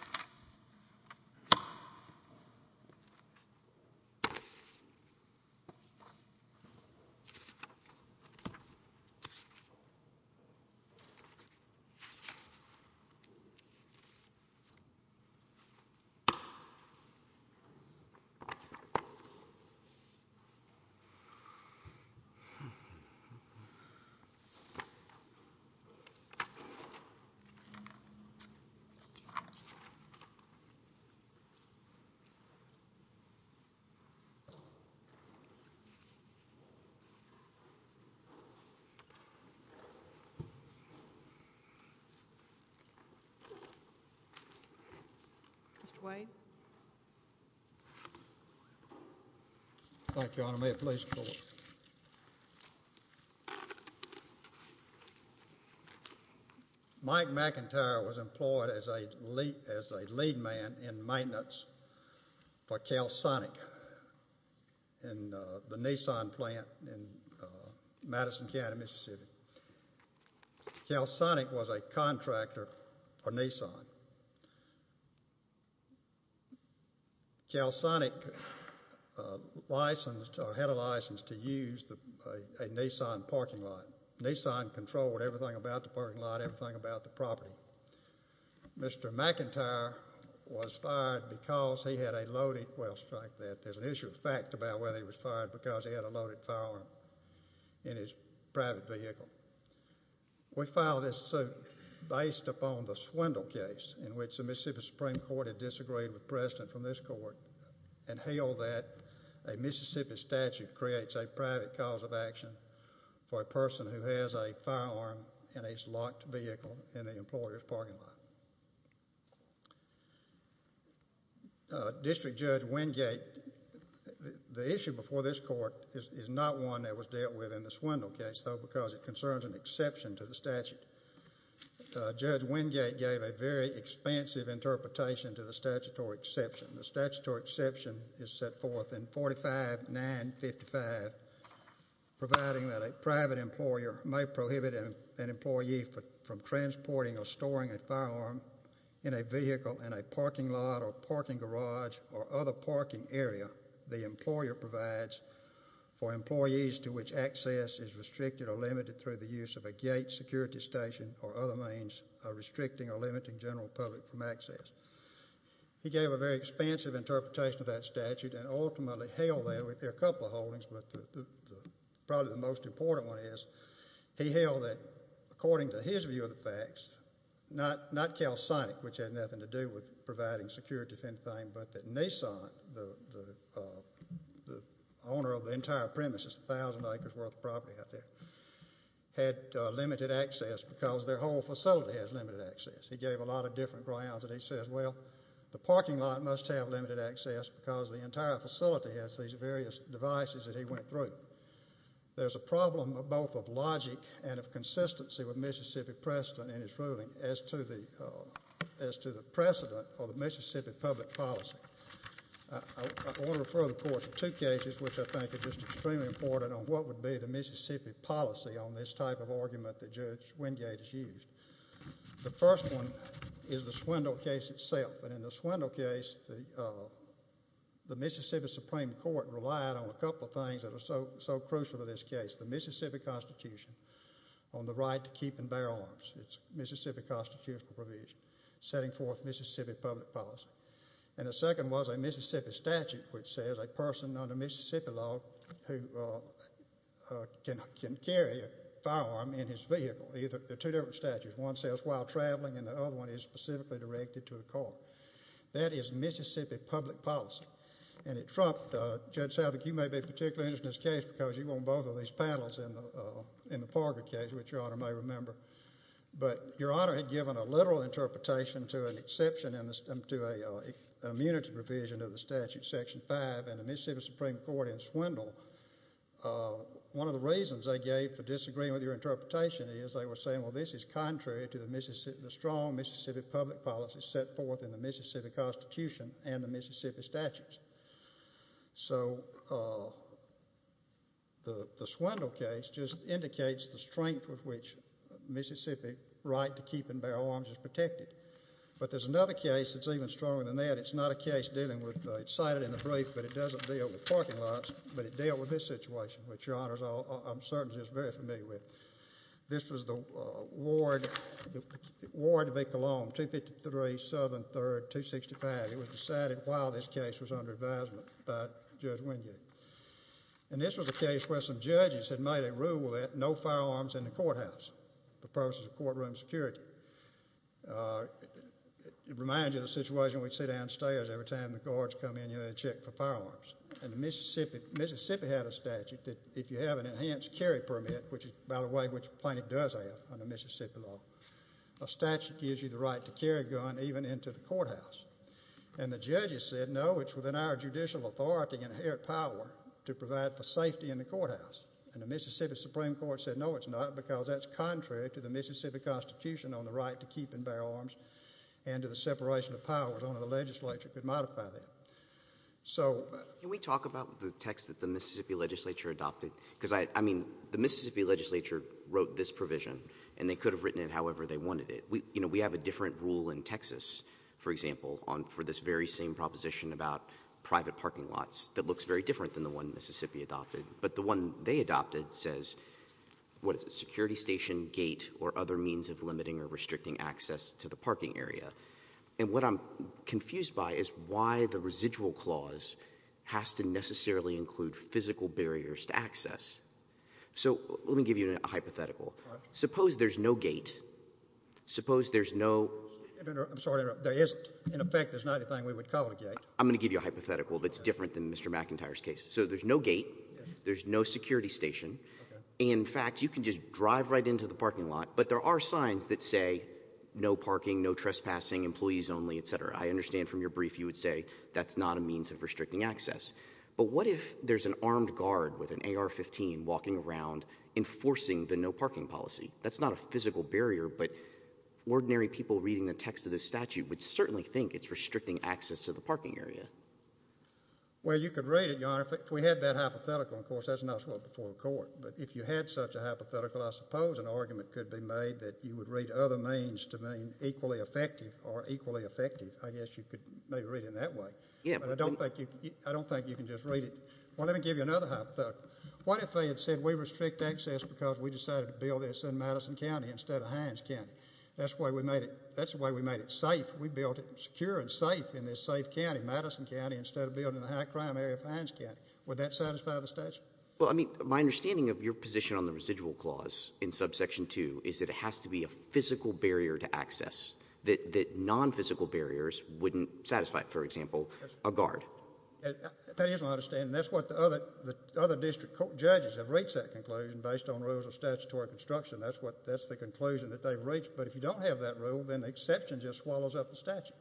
This is the Calsonic Kansei N Amer v. Calsonic Kansei N Amer, Inc. Mr. Wade. Thank you, Your Honor. May it please the Court. Mike McIntyre was employed as a lead man in maintenance for Calsonic in the Nissan plant in Madison County, Mississippi. Calsonic was a contractor for Nissan. Calsonic had a license to use a Nissan parking lot. Nissan controlled everything about the parking lot, everything about the property. Mr. McIntyre was fired because he had a loaded, well strike that, there's an issue of fact about whether he was fired because he had a loaded firearm in his private vehicle. We file this suit based upon the Swindle case in which the Mississippi Supreme Court had disagreed with precedent from this Court and held that a Mississippi statute creates a private cause of action for a person who has a firearm in his locked vehicle in the employer's parking lot. District Judge Wingate, the issue before this Court is not one that was dealt with in the Swindle case because it concerns an exception to the statute. Judge Wingate gave a very expansive interpretation to the statutory exception. The statutory exception is set forth in 45-955 providing that a private employer may prohibit an employee from transporting or storing a firearm in a vehicle in a parking lot or parking garage or other parking area the employer provides for employees to which access is restricted or limited through the use of a gate, security station, or other means restricting or limiting general public from access. He gave a very expansive interpretation of that statute and ultimately held that, and there are a couple of holdings, but probably the most important one is he held that, according to his view of the facts, not CalSonic, which had nothing to do with providing security or anything, but that Nissan, the owner of the entire premises, 1,000 acres worth of property out there, had limited access because their whole facility has limited access. He gave a lot of different grounds and he says, well, the parking lot must have limited access because the entire facility has these various devices that he went through. There's a problem of both of logic and of consistency with Mississippi precedent in his ruling as to the precedent of the Mississippi public policy. I want to refer the Court to two cases which I think are just extremely important on what would be the Mississippi policy on this type of argument that Judge Wingate has used. The first one is the Swindle case itself, and in the Swindle case, the Mississippi Supreme Court relied on a couple of things that are so crucial to this case, the Mississippi Constitution on the right to keep and bear arms. It's Mississippi constitutional provision setting forth Mississippi public policy. And the second was a Mississippi statute which says a person under Mississippi law can carry a firearm in his vehicle. They're two different statutes. One says while traveling and the other one is specifically directed to the court. That is Mississippi public policy. And it trumped Judge Savick, you may be particularly interested in this case because you were on both of these panels in the Parker case, which Your Honor may remember. But Your Honor had given a literal interpretation to an exception to an immunity provision of the statute, Section 5, in the Mississippi Supreme Court in Swindle. One of the reasons they gave for disagreeing with your interpretation is they were saying, well, this is contrary to the strong Mississippi public policy set forth in the Mississippi Constitution and the Mississippi statutes. So the Swindle case just indicates the strength with which Mississippi right to keep and bear arms is protected. But there's another case that's even stronger than that. It's not a case dealing with, it's cited in the brief, but it doesn't deal with parking lots, but it dealt with this situation, which Your Honor, I'm certain, is very familiar with. This was the Ward v. Cologne, 253 Southern 3rd, 265. It was decided while this case was under advisement by Judge Wingate. And this was a case where some judges had made a rule that no firearms in the courthouse for purposes of courtroom security. It reminds you of the situation we'd see downstairs every time the guards come in, you had to check for firearms. And Mississippi had a statute that if you have an enhanced carry permit, which is, by the way, which Plaintiff does have under Mississippi law, a statute gives you the right to carry a gun even into the courthouse. And the judges said, no, it's within our judicial authority and inherent power to provide for safety in the courthouse. And the Mississippi Supreme Court said, no, it's not, because that's contrary to the Mississippi Constitution on the right to keep and bear arms and to the separation of powers. Only the legislature could modify that. Can we talk about the text that the Mississippi legislature adopted? Because, I mean, the Mississippi legislature wrote this provision, and they could have written it however they wanted it. We have a different rule in Texas, for example, for this very same proposition about private parking lots that looks very different than the one Mississippi adopted. But the one they adopted says, what is it, security station, gate, or other means of limiting or restricting access to the parking area. And what I'm confused by is why the residual clause has to necessarily include physical barriers to access. So let me give you a hypothetical. Suppose there's no gate. Suppose there's no— I'm sorry, there isn't. In effect, there's not anything we would call a gate. I'm going to give you a hypothetical that's different than Mr. McIntyre's case. So there's no gate. There's no security station. In fact, you can just drive right into the parking lot. But there are signs that say no parking, no trespassing, employees only, et cetera. I understand from your brief you would say that's not a means of restricting access. But what if there's an armed guard with an AR-15 walking around enforcing the no parking policy? That's not a physical barrier, but ordinary people reading the text of this statute would certainly think it's restricting access to the parking area. Well, you could read it, Your Honor. If we had that hypothetical, of course, that's not before the court. But if you had such a hypothetical, I suppose an argument could be made that you would read other means to mean equally effective or equally effective. I guess you could maybe read it that way. But I don't think you can just read it. Well, let me give you another hypothetical. What if they had said we restrict access because we decided to build this in Madison County instead of Hines County? That's the way we made it safe. We built it secure and safe in this safe county, Madison County, instead of building it in the high-crime area of Hines County. Would that satisfy the statute? Well, I mean, my understanding of your position on the residual clause in subsection 2 is that it has to be a physical barrier to access, that non-physical barriers wouldn't satisfy, for example, a guard. That is my understanding. That's what the other district court judges have reached that conclusion based on rules of statutory construction. That's the conclusion that they've reached. But if you don't have that rule, then the exception just swallows up the statute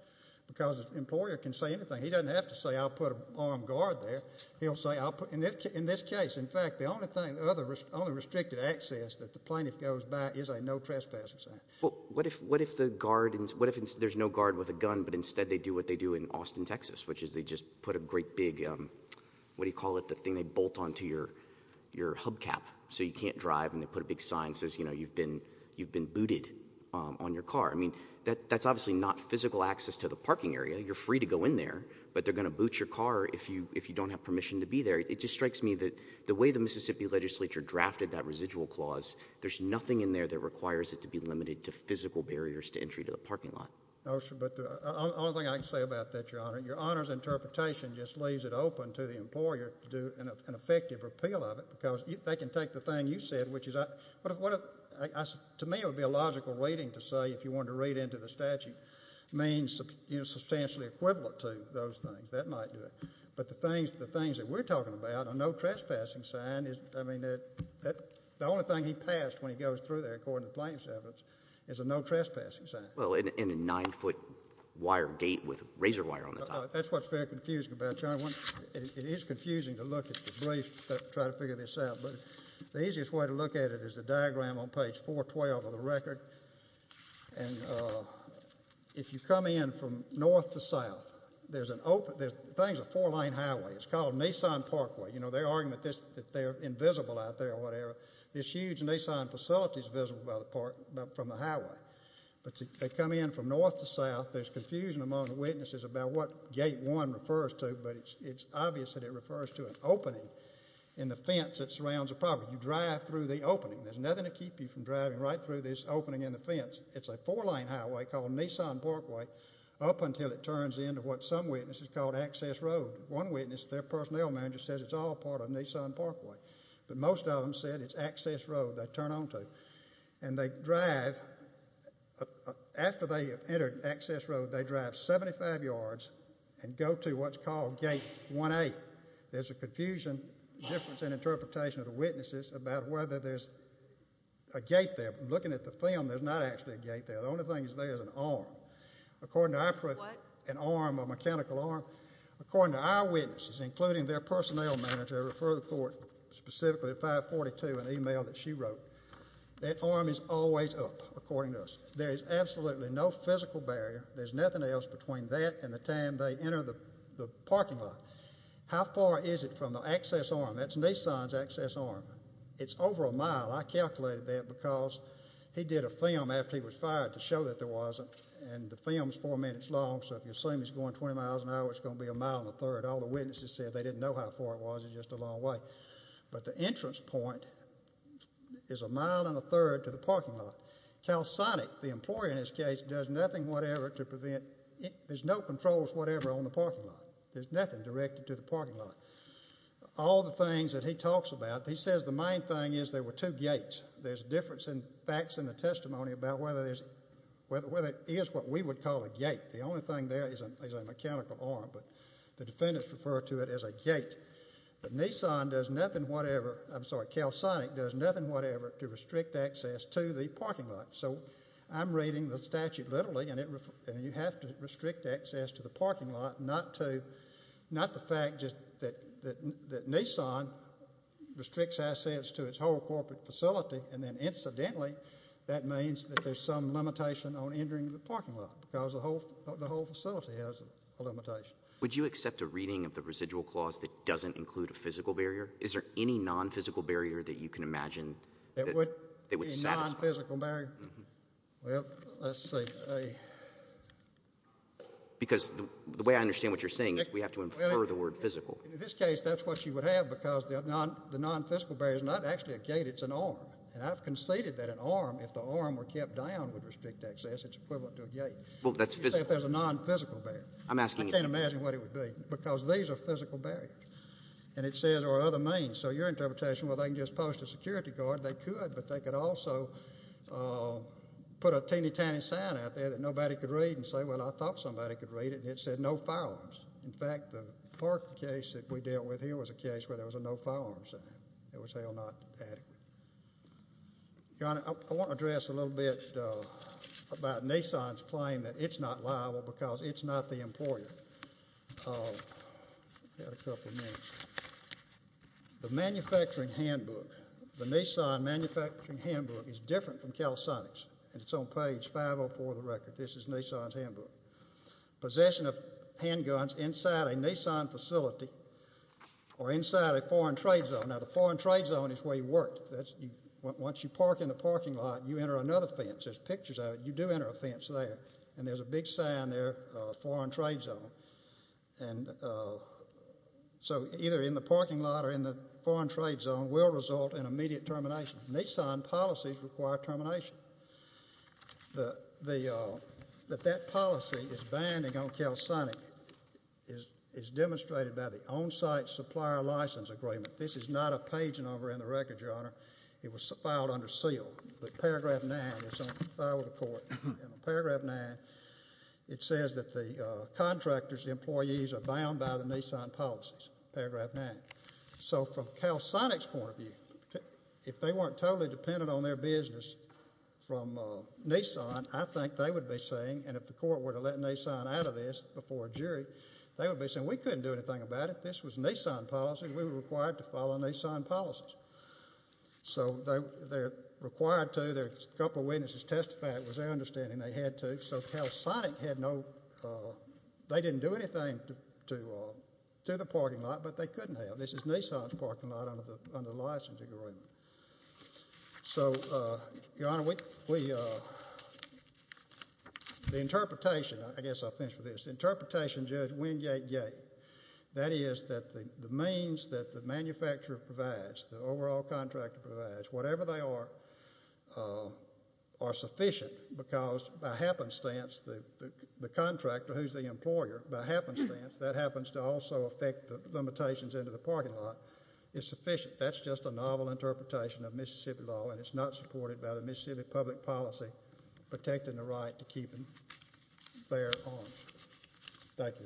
because an employer can say anything. He doesn't have to say I'll put an armed guard there. In this case, in fact, the only restricted access that the plaintiff goes by is a no trespassing sign. What if there's no guard with a gun, but instead they do what they do in Austin, Texas, which is they just put a great big, what do you call it, the thing they bolt onto your hubcap so you can't drive, and they put a big sign that says you've been booted on your car. I mean, that's obviously not physical access to the parking area. You're free to go in there, but they're going to boot your car if you don't have permission to be there. It just strikes me that the way the Mississippi legislature drafted that residual clause, there's nothing in there that requires it to be limited to physical barriers to entry to the parking lot. No, sir, but the only thing I can say about that, Your Honor, your Honor's interpretation just leaves it open to the employer to do an effective repeal of it because they can take the thing you said, To me it would be a logical reading to say if you wanted to read into the statute, means substantially equivalent to those things. That might do it. But the things that we're talking about, a no trespassing sign, I mean, the only thing he passed when he goes through there, according to plaintiff's evidence, is a no trespassing sign. Well, and a nine-foot wire gate with razor wire on the top. That's what's very confusing about it, Your Honor. It is confusing to look at the brief to try to figure this out, but the easiest way to look at it is the diagram on page 412 of the record. And if you come in from north to south, there's an open, the thing's a four-lane highway. It's called Nissan Parkway. You know, their argument is that they're invisible out there or whatever. This huge Nissan facility's visible from the highway. But they come in from north to south. There's confusion among the witnesses about what gate one refers to, but it's obvious that it refers to an opening in the fence that surrounds the property. You drive through the opening. There's nothing to keep you from driving right through this opening in the fence. It's a four-lane highway called Nissan Parkway up until it turns into what some witnesses call Access Road. One witness, their personnel manager, says it's all part of Nissan Parkway. But most of them said it's Access Road they turn on to. And they drive, after they enter Access Road, they drive 75 yards and go to what's called gate 1A. There's a confusion, difference in interpretation of the witnesses about whether there's a gate there. Looking at the film, there's not actually a gate there. The only thing is there's an arm. What? An arm, a mechanical arm. According to our witnesses, including their personnel manager, I refer the court specifically to 542, an email that she wrote, that arm is always up, according to us. There is absolutely no physical barrier. There's nothing else between that and the time they enter the parking lot. How far is it from the access arm? That's Nissan's access arm. It's over a mile. I calculated that because he did a film after he was fired to show that there wasn't. And the film's four minutes long, so if you assume he's going 20 miles an hour, it's going to be a mile and a third. All the witnesses said they didn't know how far it was. It's just a long way. But the entrance point is a mile and a third to the parking lot. CalSonic, the employer in this case, does nothing whatever to prevent it. There's no controls whatever on the parking lot. There's nothing directed to the parking lot. All the things that he talks about, he says the main thing is there were two gates. There's a difference in facts in the testimony about whether it is what we would call a gate. The only thing there is a mechanical arm, but the defendants refer to it as a gate. But Nissan does nothing whatever to restrict access to the parking lot. So I'm reading the statute literally, and you have to restrict access to the parking lot, not the fact that Nissan restricts access to its whole corporate facility, and then incidentally that means that there's some limitation on entering the parking lot because the whole facility has a limitation. Would you accept a reading of the residual clause that doesn't include a physical barrier? Is there any non-physical barrier that you can imagine that would satisfy? A non-physical barrier? Well, let's see. Because the way I understand what you're saying is we have to infer the word physical. In this case, that's what you would have because the non-physical barrier is not actually a gate. It's an arm. And I've conceded that an arm, if the arm were kept down, would restrict access. It's equivalent to a gate. Well, that's physical. If there's a non-physical barrier. I can't imagine what it would be because these are physical barriers, and it says there are other means. So your interpretation, well, they can just post a security guard. They could, but they could also put a teeny-tiny sign out there that nobody could read and say, well, I thought somebody could read it, and it said no firearms. In fact, the parking case that we dealt with here was a case where there was a no firearms sign. It was hell not adequate. Your Honor, I want to address a little bit about Nissan's claim that it's not liable because it's not the employer. I've got a couple of minutes. The manufacturing handbook, the Nissan manufacturing handbook, is different from CalSonic's, and it's on page 504 of the record. This is Nissan's handbook. Possession of handguns inside a Nissan facility or inside a foreign trade zone. Now, the foreign trade zone is where you work. Once you park in the parking lot, you enter another fence. There's pictures of it. You do enter a fence there, and there's a big sign there, foreign trade zone. And so either in the parking lot or in the foreign trade zone will result in immediate termination. Nissan policies require termination. That that policy is binding on CalSonic is demonstrated by the on-site supplier license agreement. This is not a pageant over in the record, Your Honor. It was filed under seal. But paragraph 9 is on file with the court. In paragraph 9, it says that the contractor's employees are bound by the Nissan policies, paragraph 9. So from CalSonic's point of view, if they weren't totally dependent on their business from Nissan, I think they would be saying, and if the court were to let Nissan out of this before a jury, they would be saying, we couldn't do anything about it. This was Nissan policy. We were required to follow Nissan policies. So they're required to. A couple of witnesses testified it was their understanding they had to. So CalSonic had no, they didn't do anything to the parking lot, but they couldn't have. This is Nissan's parking lot under the license agreement. So, Your Honor, we, the interpretation, I guess I'll finish with this, the interpretation Judge Wingate gave, that is that the means that the manufacturer provides, the overall contractor provides, whatever they are, are sufficient because by happenstance, the contractor who's the employer, by happenstance, that happens to also affect the limitations into the parking lot is sufficient. That's just a novel interpretation of Mississippi law, and it's not supported by the Mississippi public policy protecting the right to keep their owns. Thank you.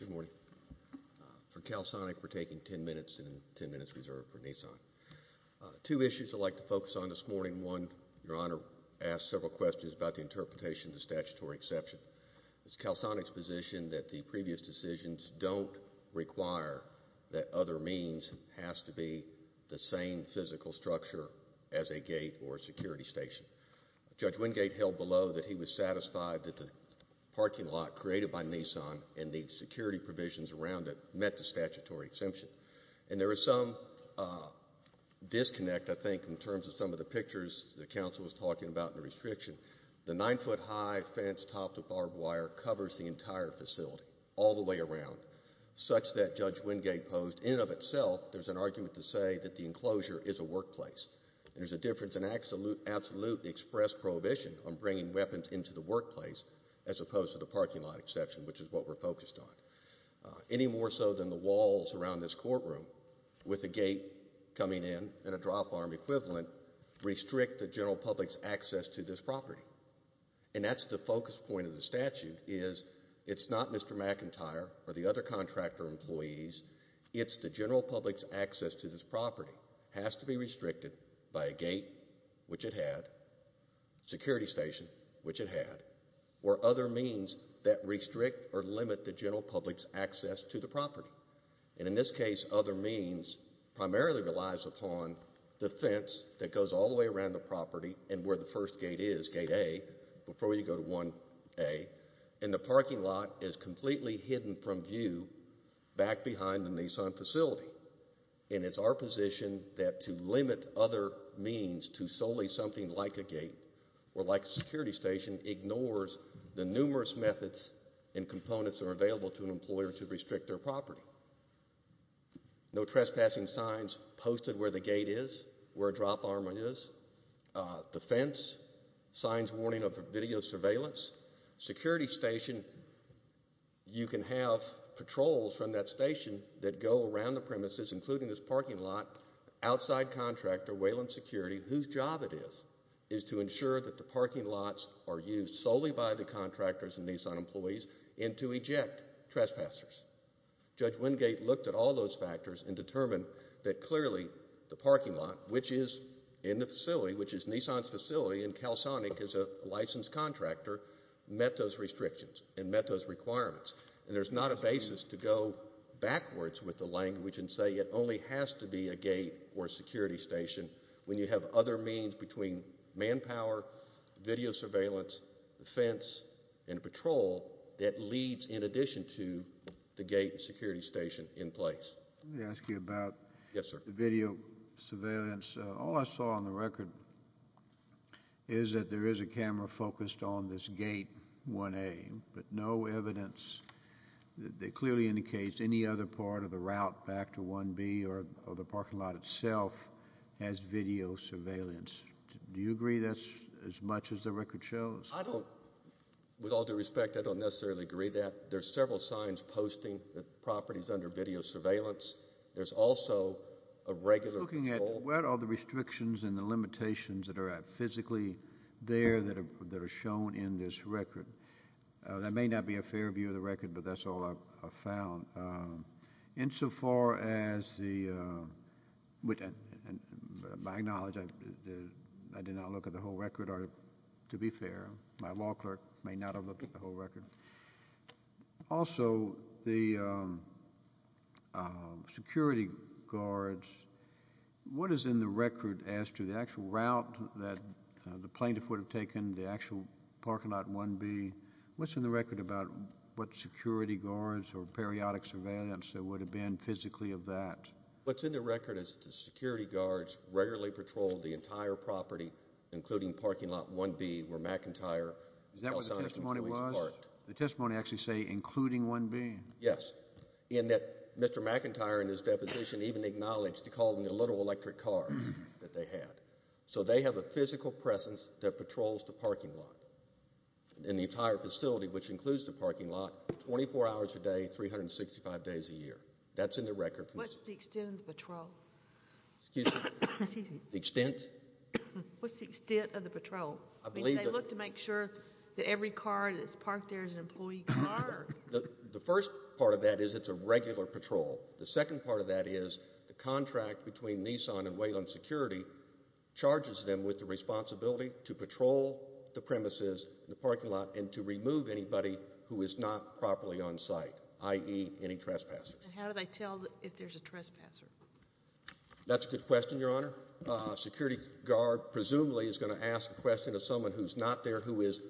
Good morning. For CalSonic, we're taking 10 minutes and 10 minutes reserved for Nissan. Two issues I'd like to focus on this morning. One, Your Honor asked several questions about the interpretation of the statutory exception. It's CalSonic's position that the previous decisions don't require that other means has to be the same physical structure as a gate or a security station. Judge Wingate held below that he was satisfied that the parking lot created by Nissan and the security provisions around it met the statutory exemption. And there is some disconnect, I think, in terms of some of the pictures the counsel was talking about in the restriction. The nine-foot-high fence topped with barbed wire covers the entire facility all the way around, such that, Judge Wingate posed, in and of itself, there's an argument to say that the enclosure is a workplace. There's a difference in absolute express prohibition on bringing weapons into the workplace as opposed to the parking lot exception, which is what we're focused on. Any more so than the walls around this courtroom with a gate coming in and a drop arm equivalent restrict the general public's access to this property. And that's the focus point of the statute is it's not Mr. McIntyre or the other contractor employees. It's the general public's access to this property has to be restricted by a gate, which it had, security station, which it had, or other means that restrict or limit the general public's access to the property. And in this case, other means primarily relies upon the fence that goes all the way around the property and where the first gate is, gate A, before you go to 1A, and the parking lot is completely hidden from view back behind the Nissan facility. And it's our position that to limit other means to solely something like a gate or like a security station ignores the numerous methods and components that are available to an employer to restrict their property. No trespassing signs posted where the gate is, where a drop arm is. The fence signs warning of video surveillance. Security station, you can have patrols from that station that go around the premises, including this parking lot, outside contractor, Wayland Security, whose job it is is to ensure that the parking lots are used solely by the contractors and Nissan employees and to eject trespassers. Judge Wingate looked at all those factors and determined that clearly the parking lot, which is in the facility, which is Nissan's facility, and CalSonic is a licensed contractor, met those restrictions and met those requirements. And there's not a basis to go backwards with the language and say it only has to be a gate or security station when you have other means between manpower, video surveillance, the fence, and patrol that leads in addition to the gate and security station in place. Let me ask you about the video surveillance. All I saw on the record is that there is a camera focused on this gate 1A, but no evidence that clearly indicates any other part of the route back to 1B or the parking lot itself has video surveillance. Do you agree that's as much as the record shows? I don't. With all due respect, I don't necessarily agree with that. There are several signs posting that the property is under video surveillance. There's also a regular patrol. I'm looking at what are the restrictions and the limitations that are physically there that are shown in this record. That may not be a fair view of the record, but that's all I've found. Insofar as the—with my knowledge, I did not look at the whole record to be fair. My law clerk may not have looked at the whole record. Also, the security guards. What is in the record as to the actual route that the plaintiff would have taken, the actual parking lot 1B? What's in the record about what security guards or periodic surveillance there would have been physically of that? What's in the record is that the security guards regularly patrolled the entire property, including parking lot 1B, where McIntyre— Is that what the testimony was? The testimony actually say, including 1B? Yes. And that Mr. McIntyre in his deposition even acknowledged to call them the little electric car that they had. So they have a physical presence that patrols the parking lot. And the entire facility, which includes the parking lot, 24 hours a day, 365 days a year. That's in the record. What's the extent of the patrol? Excuse me? The extent? What's the extent of the patrol? I believe that— I mean, they look to make sure that every car that's parked there is an employee car. The first part of that is it's a regular patrol. The second part of that is the contract between Nissan and Wayland Security charges them with the responsibility to patrol the premises, the parking lot, and to remove anybody who is not properly on site, i.e., any trespassers. And how do they tell if there's a trespasser? That's a good question, Your Honor. A security guard presumably is going to ask a question to someone who's not there, who is—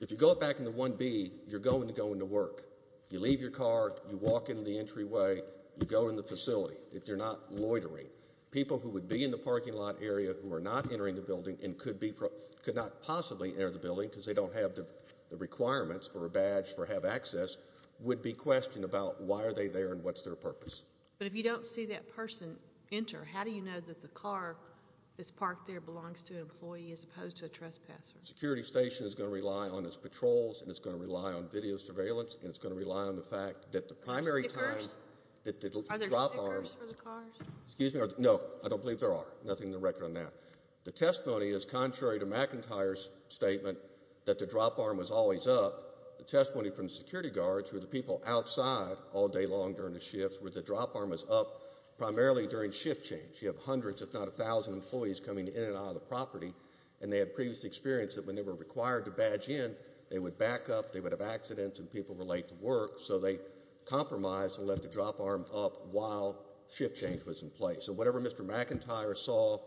If you go back in the 1B, you're going to go into work. You leave your car. You walk into the entryway. You go in the facility. You're not loitering. People who would be in the parking lot area who are not entering the building and could not possibly enter the building because they don't have the requirements for a badge for have access would be questioned about why are they there and what's their purpose. But if you don't see that person enter, how do you know that the car that's parked there belongs to an employee as opposed to a trespasser? A security station is going to rely on its patrols, and it's going to rely on video surveillance, and it's going to rely on the fact that the primary time— Stickers? Are there stickers for the cars? Excuse me? No, I don't believe there are. Nothing in the record on that. The testimony is contrary to McIntyre's statement that the drop arm was always up. The testimony from security guards who are the people outside all day long during the shifts where the drop arm was up primarily during shift change. You have hundreds, if not a thousand, employees coming in and out of the property, and they had previous experience that when they were required to badge in, they would back up, they would have accidents, and people were late to work, so they compromised and left the drop arm up while shift change was in place. So whatever Mr. McIntyre saw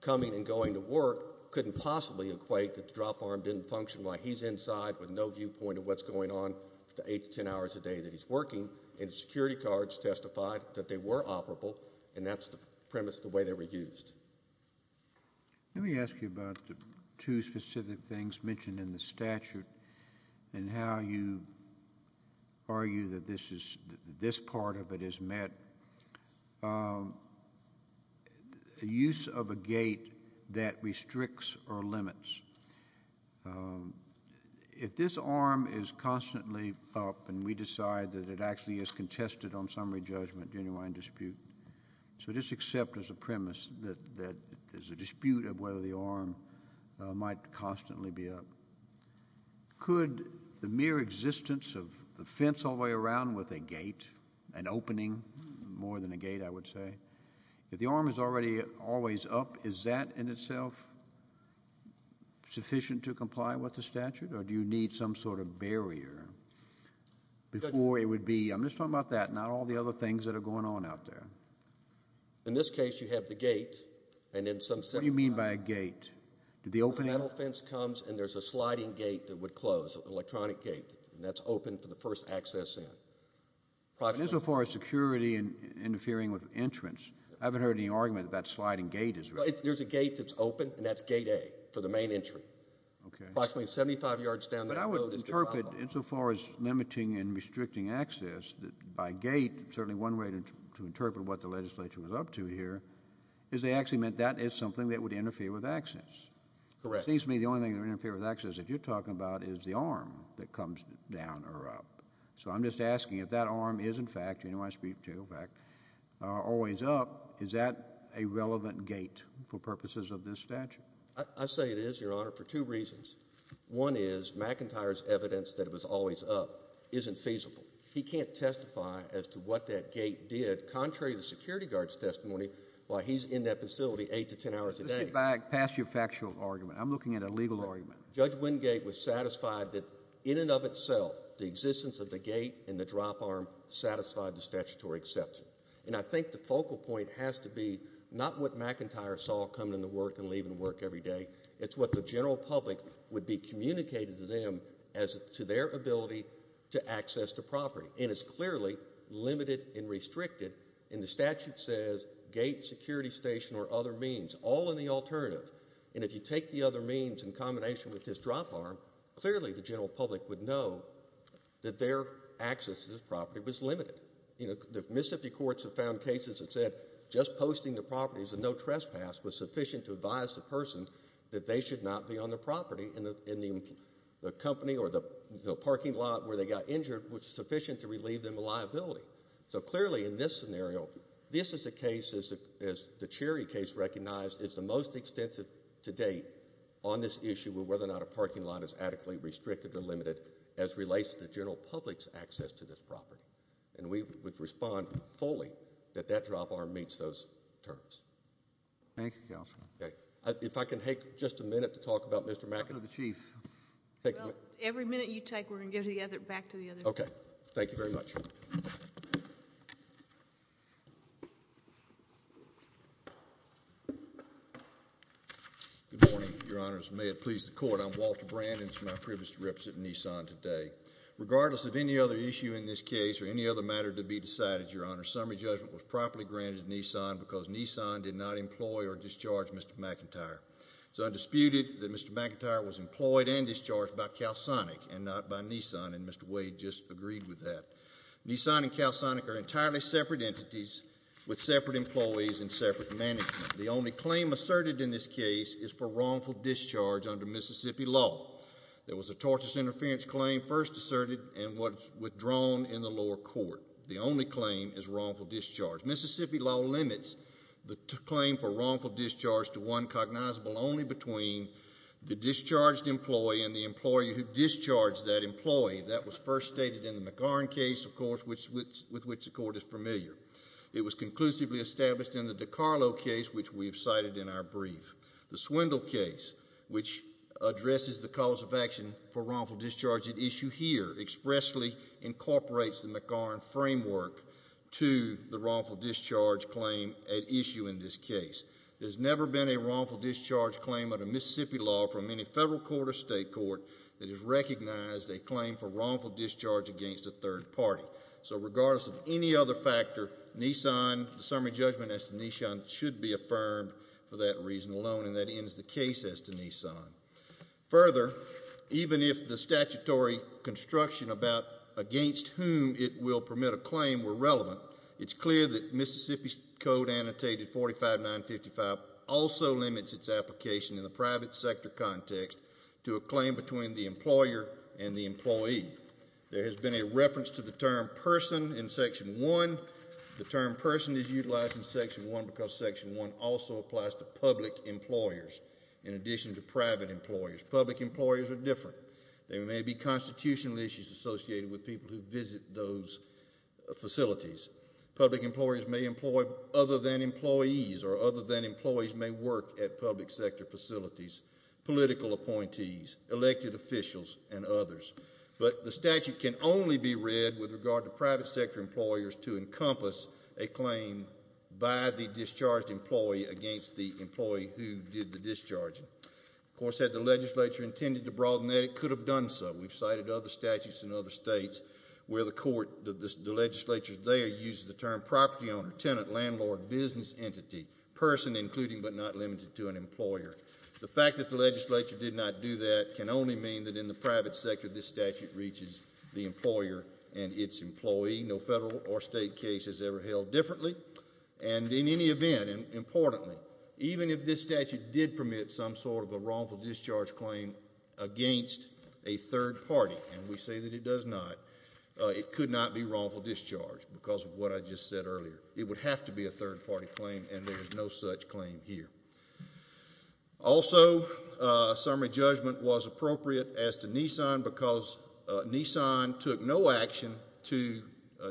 coming and going to work couldn't possibly equate that the drop arm didn't function while he's inside with no viewpoint of what's going on for the 8 to 10 hours a day that he's working, and the security guards testified that they were operable, and that's the premise of the way they were used. Let me ask you about the two specific things mentioned in the statute and how you argue that this part of it is met. The use of a gate that restricts or limits. If this arm is constantly up and we decide that it actually is contested on summary judgment during a wine dispute, so just accept as a premise that there's a dispute of whether the arm might constantly be up. Could the mere existence of the fence all the way around with a gate, an opening more than a gate, I would say, if the arm is already always up, is that in itself sufficient to comply with the statute, or do you need some sort of barrier before it would be? I'm just talking about that, not all the other things that are going on out there. In this case, you have the gate, and in some sense— What do you mean by a gate? The metal fence comes, and there's a sliding gate that would close, an electronic gate, and that's open for the first access in. Insofar as security interfering with entrance, I haven't heard any argument that that sliding gate is— There's a gate that's open, and that's gate A for the main entry. Okay. But I would interpret, insofar as limiting and restricting access, that by gate, certainly one way to interpret what the legislature was up to here is they actually meant that is something that would interfere with access. Correct. It seems to me the only thing that would interfere with access that you're talking about is the arm that comes down or up. So I'm just asking if that arm is, in fact, you know who I speak to, in fact, always up, is that a relevant gate for purposes of this statute? I say it is, Your Honor, for two reasons. One is McIntyre's evidence that it was always up isn't feasible. He can't testify as to what that gate did, contrary to the security guard's testimony, while he's in that facility eight to ten hours a day. Let's get back past your factual argument. I'm looking at a legal argument. Judge Wingate was satisfied that, in and of itself, the existence of the gate and the drop arm satisfied the statutory exception. And I think the focal point has to be not what McIntyre saw coming into work and leaving work every day. It's what the general public would be communicating to them as to their ability to access the property. And it's clearly limited and restricted. And the statute says gate, security station, or other means, all in the alternative. And if you take the other means in combination with this drop arm, clearly the general public would know that their access to this property was limited. You know, the Mississippi courts have found cases that said just posting the properties and no trespass was sufficient to advise the person that they should not be on the property. And the company or the parking lot where they got injured was sufficient to relieve them of liability. So clearly in this scenario, this is a case, as the Cherry case recognized, is the most extensive to date on this issue of whether or not a parking lot is adequately restricted or limited as relates to the general public's access to this property. And we would respond fully that that drop arm meets those terms. Thank you, Counselor. If I can take just a minute to talk about Mr. McIntyre. Every minute you take, we're going to go back to the other. Okay. Thank you very much. Good morning, Your Honors. May it please the Court. I'm Walter Brandon. It's my privilege to represent Nissan today. Regardless of any other issue in this case or any other matter to be decided, Your Honors, summary judgment was properly granted to Nissan because Nissan did not employ or discharge Mr. McIntyre. It's undisputed that Mr. McIntyre was employed and discharged by CalSonic and not by Nissan, and Mr. Wade just agreed with that. Nissan and CalSonic are entirely separate entities with separate employees and separate management. The only claim asserted in this case is for wrongful discharge under Mississippi law. There was a tortious interference claim first asserted and was withdrawn in the lower court. The only claim is wrongful discharge. Mississippi law limits the claim for wrongful discharge to one cognizable only between the discharged employee and the employee who discharged that employee. That was first stated in the McGarn case, of course, with which the Court is familiar. It was conclusively established in the DiCarlo case, which we have cited in our brief. The Swindle case, which addresses the cause of action for wrongful discharge at issue here, expressly incorporates the McGarn framework to the wrongful discharge claim at issue in this case. There's never been a wrongful discharge claim under Mississippi law from any federal court or state court that has recognized a claim for wrongful discharge against a third party. So regardless of any other factor, Nissan, the summary judgment as to Nissan, should be affirmed for that reason alone, and that ends the case as to Nissan. Further, even if the statutory construction about against whom it will permit a claim were relevant, it's clear that Mississippi's code annotated 45955 also limits its application in the private sector context There has been a reference to the term person in Section 1. The term person is utilized in Section 1 because Section 1 also applies to public employers in addition to private employers. Public employers are different. There may be constitutional issues associated with people who visit those facilities. Public employers may employ other than employees or other than employees may work at public sector facilities, political appointees, elected officials, and others. But the statute can only be read with regard to private sector employers to encompass a claim by the discharged employee against the employee who did the discharging. Of course, had the legislature intended to broaden that, it could have done so. We've cited other statutes in other states where the court, the legislature there, uses the term property owner, tenant, landlord, business entity, person, including but not limited to an employer. The fact that the legislature did not do that can only mean that in the private sector, this statute reaches the employer and its employee. No federal or state case is ever held differently. And in any event, and importantly, even if this statute did permit some sort of a wrongful discharge claim against a third party, and we say that it does not, it could not be wrongful discharge because of what I just said earlier. It would have to be a third party claim, and there is no such claim here. Also, a summary judgment was appropriate as to Nissan because Nissan took no action to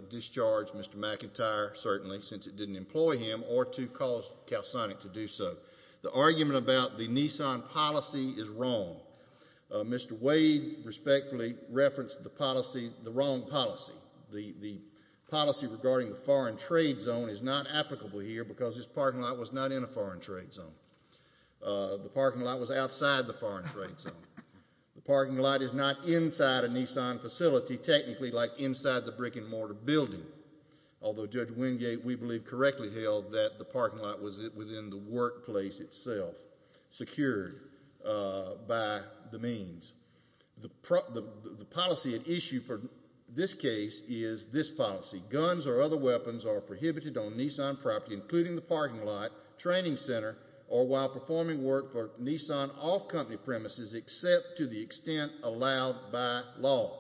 discharge Mr. McIntyre, certainly, since it didn't employ him, or to cause CalSonic to do so. The argument about the Nissan policy is wrong. Mr. Wade respectfully referenced the policy, the wrong policy. The policy regarding the foreign trade zone is not applicable here because this parking lot was not in a foreign trade zone. The parking lot was outside the foreign trade zone. The parking lot is not inside a Nissan facility, technically, like inside the brick and mortar building, although Judge Wingate, we believe, correctly held that the parking lot was within the workplace itself, secured by the means. The policy at issue for this case is this policy. Guns or other weapons are prohibited on Nissan property, including the parking lot, training center, or while performing work for Nissan off-company premises, except to the extent allowed by law.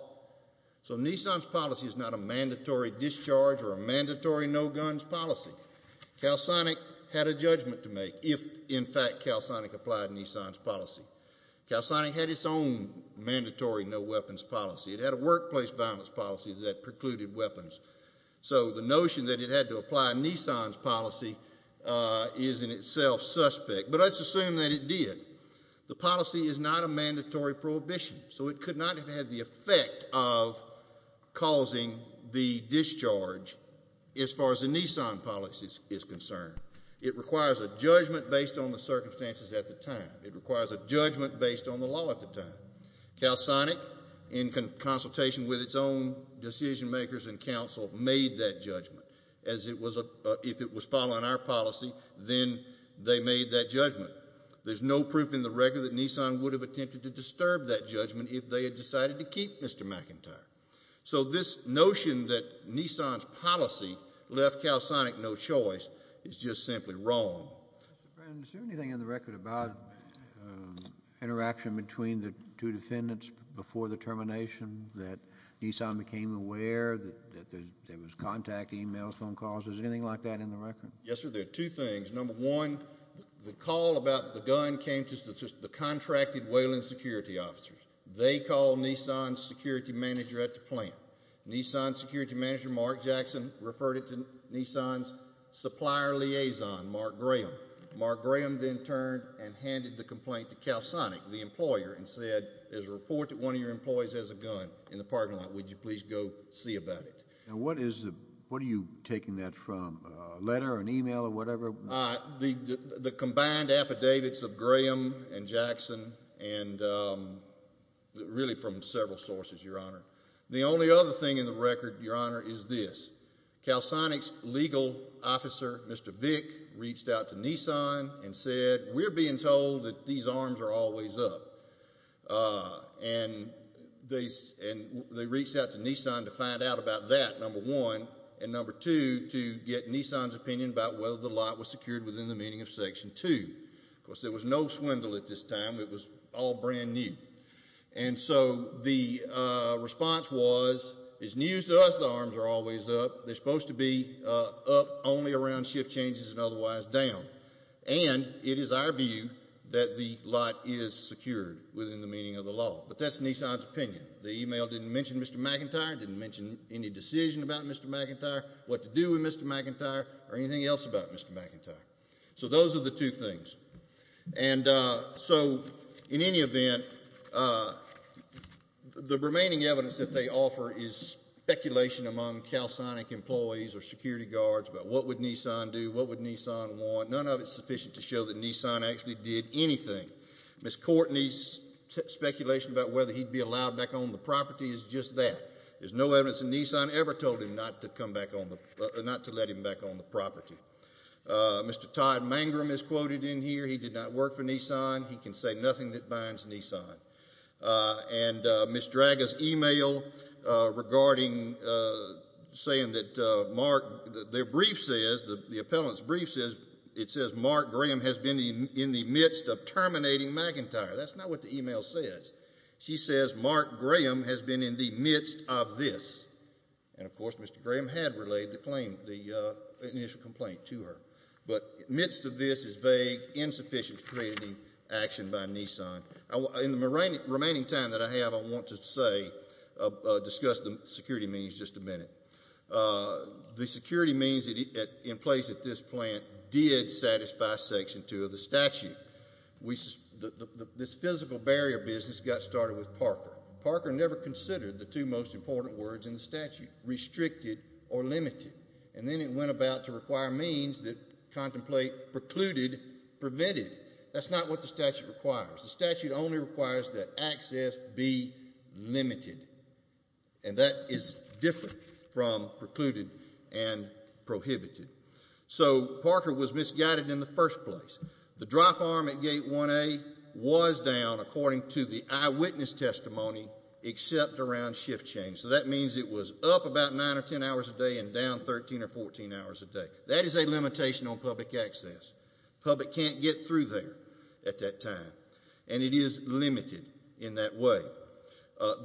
So Nissan's policy is not a mandatory discharge or a mandatory no-guns policy. CalSonic had a judgment to make if, in fact, CalSonic applied Nissan's policy. CalSonic had its own mandatory no-weapons policy. It had a workplace violence policy that precluded weapons. So the notion that it had to apply Nissan's policy is in itself suspect. But let's assume that it did. The policy is not a mandatory prohibition, so it could not have had the effect of causing the discharge as far as the Nissan policy is concerned. It requires a judgment based on the circumstances at the time. It requires a judgment based on the law at the time. CalSonic, in consultation with its own decision-makers and counsel, made that judgment. If it was following our policy, then they made that judgment. There's no proof in the record that Nissan would have attempted to disturb that judgment if they had decided to keep Mr. McIntyre. So this notion that Nissan's policy left CalSonic no choice is just simply wrong. Mr. Brown, is there anything in the record about interaction between the two defendants before the termination, that Nissan became aware that there was contact, e-mails, phone calls? Is there anything like that in the record? Yes, sir. There are two things. Number one, the call about the gun came to the contracted Wayland security officers. They called Nissan's security manager at the plant. Nissan's security manager, Mark Jackson, referred it to Nissan's supplier liaison, Mark Graham. Mark Graham then turned and handed the complaint to CalSonic, the employer, and said, there's a report that one of your employees has a gun in the parking lot. Would you please go see about it? Now, what are you taking that from, a letter, an e-mail, or whatever? The combined affidavits of Graham and Jackson and really from several sources, Your Honor. The only other thing in the record, Your Honor, is this. CalSonic's legal officer, Mr. Vick, reached out to Nissan and said, we're being told that these arms are always up. And they reached out to Nissan to find out about that, number one. And number two, to get Nissan's opinion about whether the lot was secured within the meaning of Section 2. Of course, there was no swindle at this time. It was all brand new. And so the response was, it's news to us the arms are always up. They're supposed to be up only around shift changes and otherwise down. And it is our view that the lot is secured within the meaning of the law. But that's Nissan's opinion. The e-mail didn't mention Mr. McIntyre, didn't mention any decision about Mr. McIntyre, what to do with Mr. McIntyre, or anything else about Mr. McIntyre. So those are the two things. And so, in any event, the remaining evidence that they offer is speculation among CalSonic employees or security guards about what would Nissan do, what would Nissan want. None of it is sufficient to show that Nissan actually did anything. Ms. Courtney's speculation about whether he'd be allowed back on the property is just that. There's no evidence that Nissan ever told him not to let him back on the property. Mr. Todd Mangrum is quoted in here. He did not work for Nissan. He can say nothing that binds Nissan. And Ms. Draga's e-mail regarding saying that Mark, their brief says, the appellant's brief says, it says Mark Graham has been in the midst of terminating McIntyre. That's not what the e-mail says. She says Mark Graham has been in the midst of this. And, of course, Mr. Graham had relayed the claim, the initial complaint to her. But amidst of this is vague, insufficient crediting action by Nissan. In the remaining time that I have, I want to say, discuss the security means just a minute. The security means in place at this plant did satisfy Section 2 of the statute. This physical barrier business got started with Parker. Parker never considered the two most important words in the statute, restricted or limited. And then it went about to require means that contemplate precluded, prevented. That's not what the statute requires. The statute only requires that access be limited. And that is different from precluded and prohibited. So Parker was misguided in the first place. The drop arm at Gate 1A was down, according to the eyewitness testimony, except around shift change. So that means it was up about 9 or 10 hours a day and down 13 or 14 hours a day. That is a limitation on public access. The public can't get through there at that time. And it is limited in that way.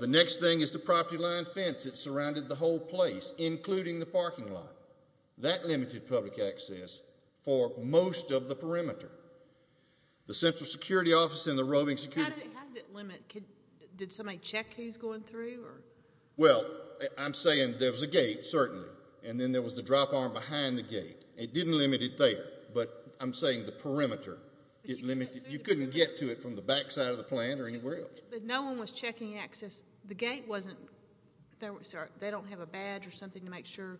The next thing is the property line fence that surrounded the whole place, including the parking lot. That limited public access for most of the perimeter. The Central Security Office and the Roving Security. How did it limit? Did somebody check who was going through? Well, I'm saying there was a gate, certainly, and then there was the drop arm behind the gate. It didn't limit it there, but I'm saying the perimeter. You couldn't get to it from the backside of the plant or anywhere else. But no one was checking access. They don't have a badge or something to make sure?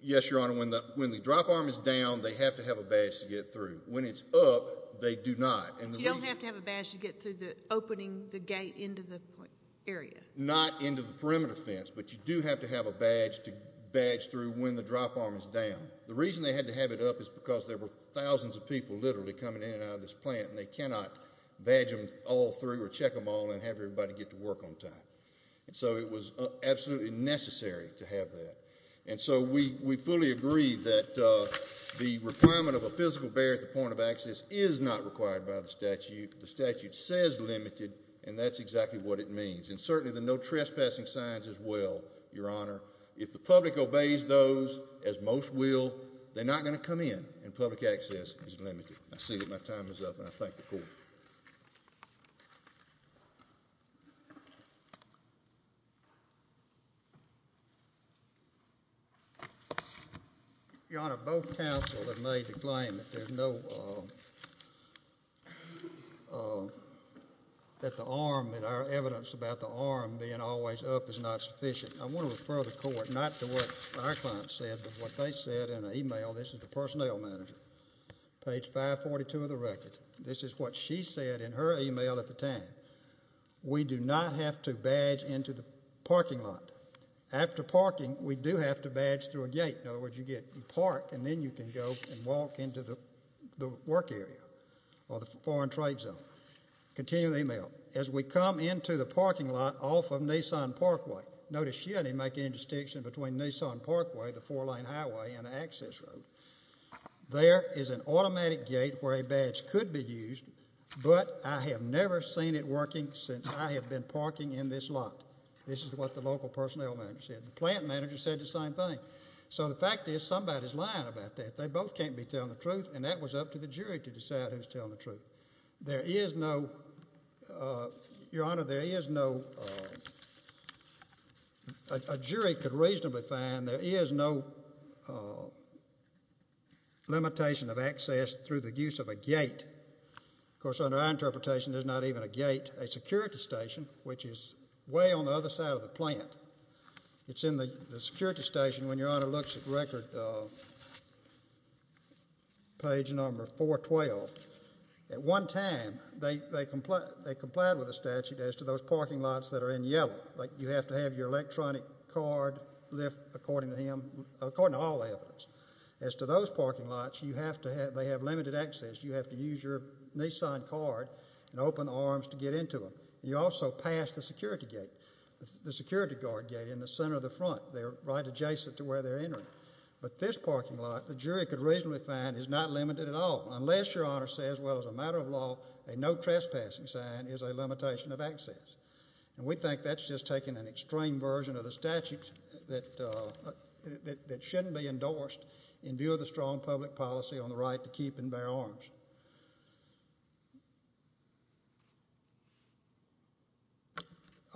Yes, Your Honor. When the drop arm is down, they have to have a badge to get through. When it's up, they do not. You don't have to have a badge to get through opening the gate into the area? Not into the perimeter fence, but you do have to have a badge to badge through when the drop arm is down. The reason they had to have it up is because there were thousands of people literally coming in and out of this plant, and they cannot badge them all through or check them all and have everybody get to work on time. And so it was absolutely necessary to have that. And so we fully agree that the requirement of a physical barrier at the point of access is not required by the statute. The statute says limited, and that's exactly what it means. And certainly the no trespassing signs as well, Your Honor. If the public obeys those, as most will, they're not going to come in, and public access is limited. I see that my time is up, and I thank the Court. Your Honor, both counsel have made the claim that the arm, that our evidence about the arm being always up is not sufficient. I want to refer the Court not to what our client said, but what they said in an email. This is the personnel manager, page 542 of the record. This is what she said in her email at the time. We do not have to badge into the parking lot. After parking, we do have to badge through a gate. In other words, you park, and then you can go and walk into the work area or the foreign trade zone. Continue the email. As we come into the parking lot off of Nissan Parkway, notice she doesn't even make any distinction between Nissan Parkway, the four-lane highway, and the access road. There is an automatic gate where a badge could be used, but I have never seen it working since I have been parking in this lot. This is what the local personnel manager said. The plant manager said the same thing. So the fact is somebody's lying about that. They both can't be telling the truth, and that was up to the jury to decide who's telling the truth. There is no, Your Honor, there is no, a jury could reasonably find there is no limitation of access through the use of a gate. Of course, under our interpretation, there's not even a gate. A security station, which is way on the other side of the plant, it's in the security station when Your Honor looks at record, page number 412. At one time, they complied with the statute as to those parking lots that are in yellow. You have to have your electronic card lift according to him, according to all the evidence. As to those parking lots, you have to have, they have limited access. You have to use your Nissan card and open arms to get into them. You also pass the security gate, the security guard gate in the center of the front. They're right adjacent to where they're entering. But this parking lot, the jury could reasonably find, is not limited at all, unless Your Honor says, well, as a matter of law, a no trespassing sign is a limitation of access. And we think that's just taking an extreme version of the statute that shouldn't be endorsed in view of the strong public policy on the right to keep and bear arms.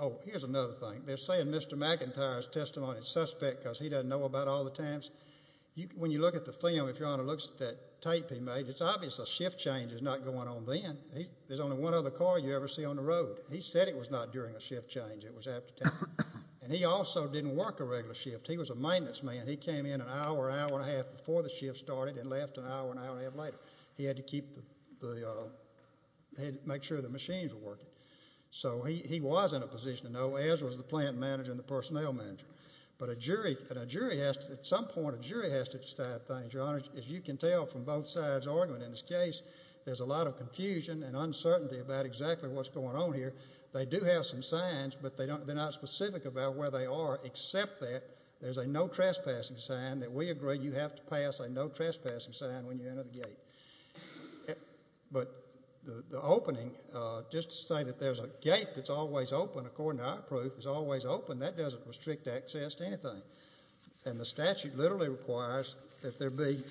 Oh, here's another thing. They're saying Mr. McIntyre's testimony is suspect because he doesn't know about all the times. When you look at the film, if Your Honor looks at that tape he made, it's obvious a shift change is not going on then. There's only one other car you ever see on the road. He said it was not during a shift change. It was after 10. And he also didn't work a regular shift. He was a maintenance man. He came in an hour, hour and a half before the shift started and left an hour, an hour and a half later. He had to make sure the machines were working. So he was in a position to know, as was the plant manager and the personnel manager. But at some point a jury has to decide things. Your Honor, as you can tell from both sides' argument in this case, there's a lot of confusion and uncertainty about exactly what's going on here. They do have some signs, but they're not specific about where they are except that there's a no trespassing sign that we agree you have to pass a no trespassing sign when you enter the gate. But the opening, just to say that there's a gate that's always open according to our proof, is always open, that doesn't restrict access to anything. And the statute literally requires that there be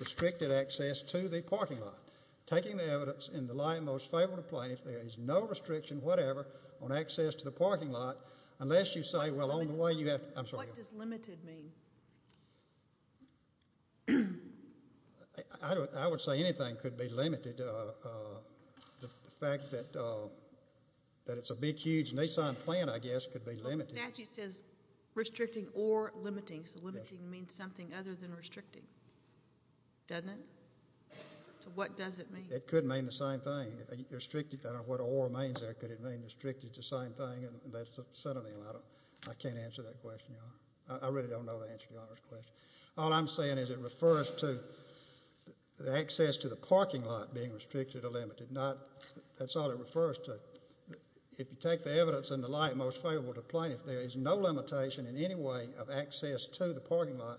restricted access to the parking lot. Taking the evidence in the light of the most favorable plaintiff, there is no restriction whatever on access to the parking lot unless you say, well, on the way you have to What does limited mean? I would say anything could be limited. The fact that it's a big, huge, Nissan plant, I guess, could be limited. The statute says restricting or limiting, so limiting means something other than restricting, doesn't it? So what does it mean? It could mean the same thing. I don't know what or means there. Could it mean restricted is the same thing? That's a subtle name. I can't answer that question, Your Honor. I really don't know the answer to Your Honor's question. All I'm saying is it refers to the access to the parking lot being restricted or limited. That's all it refers to. If you take the evidence in the light of the most favorable plaintiff, there is no limitation in any way of access to the parking lot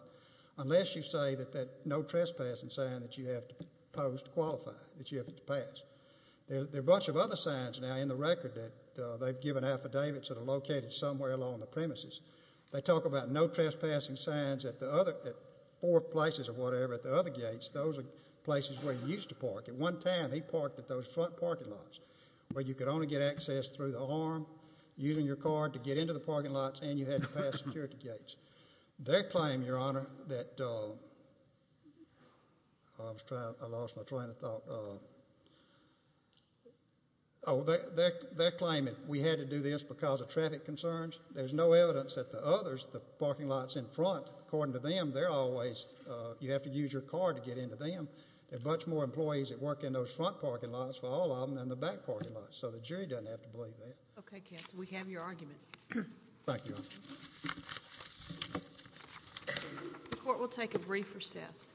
unless you say that no trespassing sign that you have to pose to qualify, that you have to pass. There are a bunch of other signs now in the record that they've given affidavits that are located somewhere along the premises. They talk about no trespassing signs at four places or whatever at the other gates. Those are places where you used to park. At one time, he parked at those front parking lots where you could only get access through the arm, using your card to get into the parking lots, and you had to pass security gates. They're claiming, Your Honor, that we had to do this because of traffic concerns. There's no evidence that the others, the parking lots in front, according to them, you have to use your card to get into them. There are a bunch more employees that work in those front parking lots for all of them than the back parking lots, so the jury doesn't have to believe that. Okay, counsel, we have your argument. Thank you, Your Honor. The court will take a brief recess.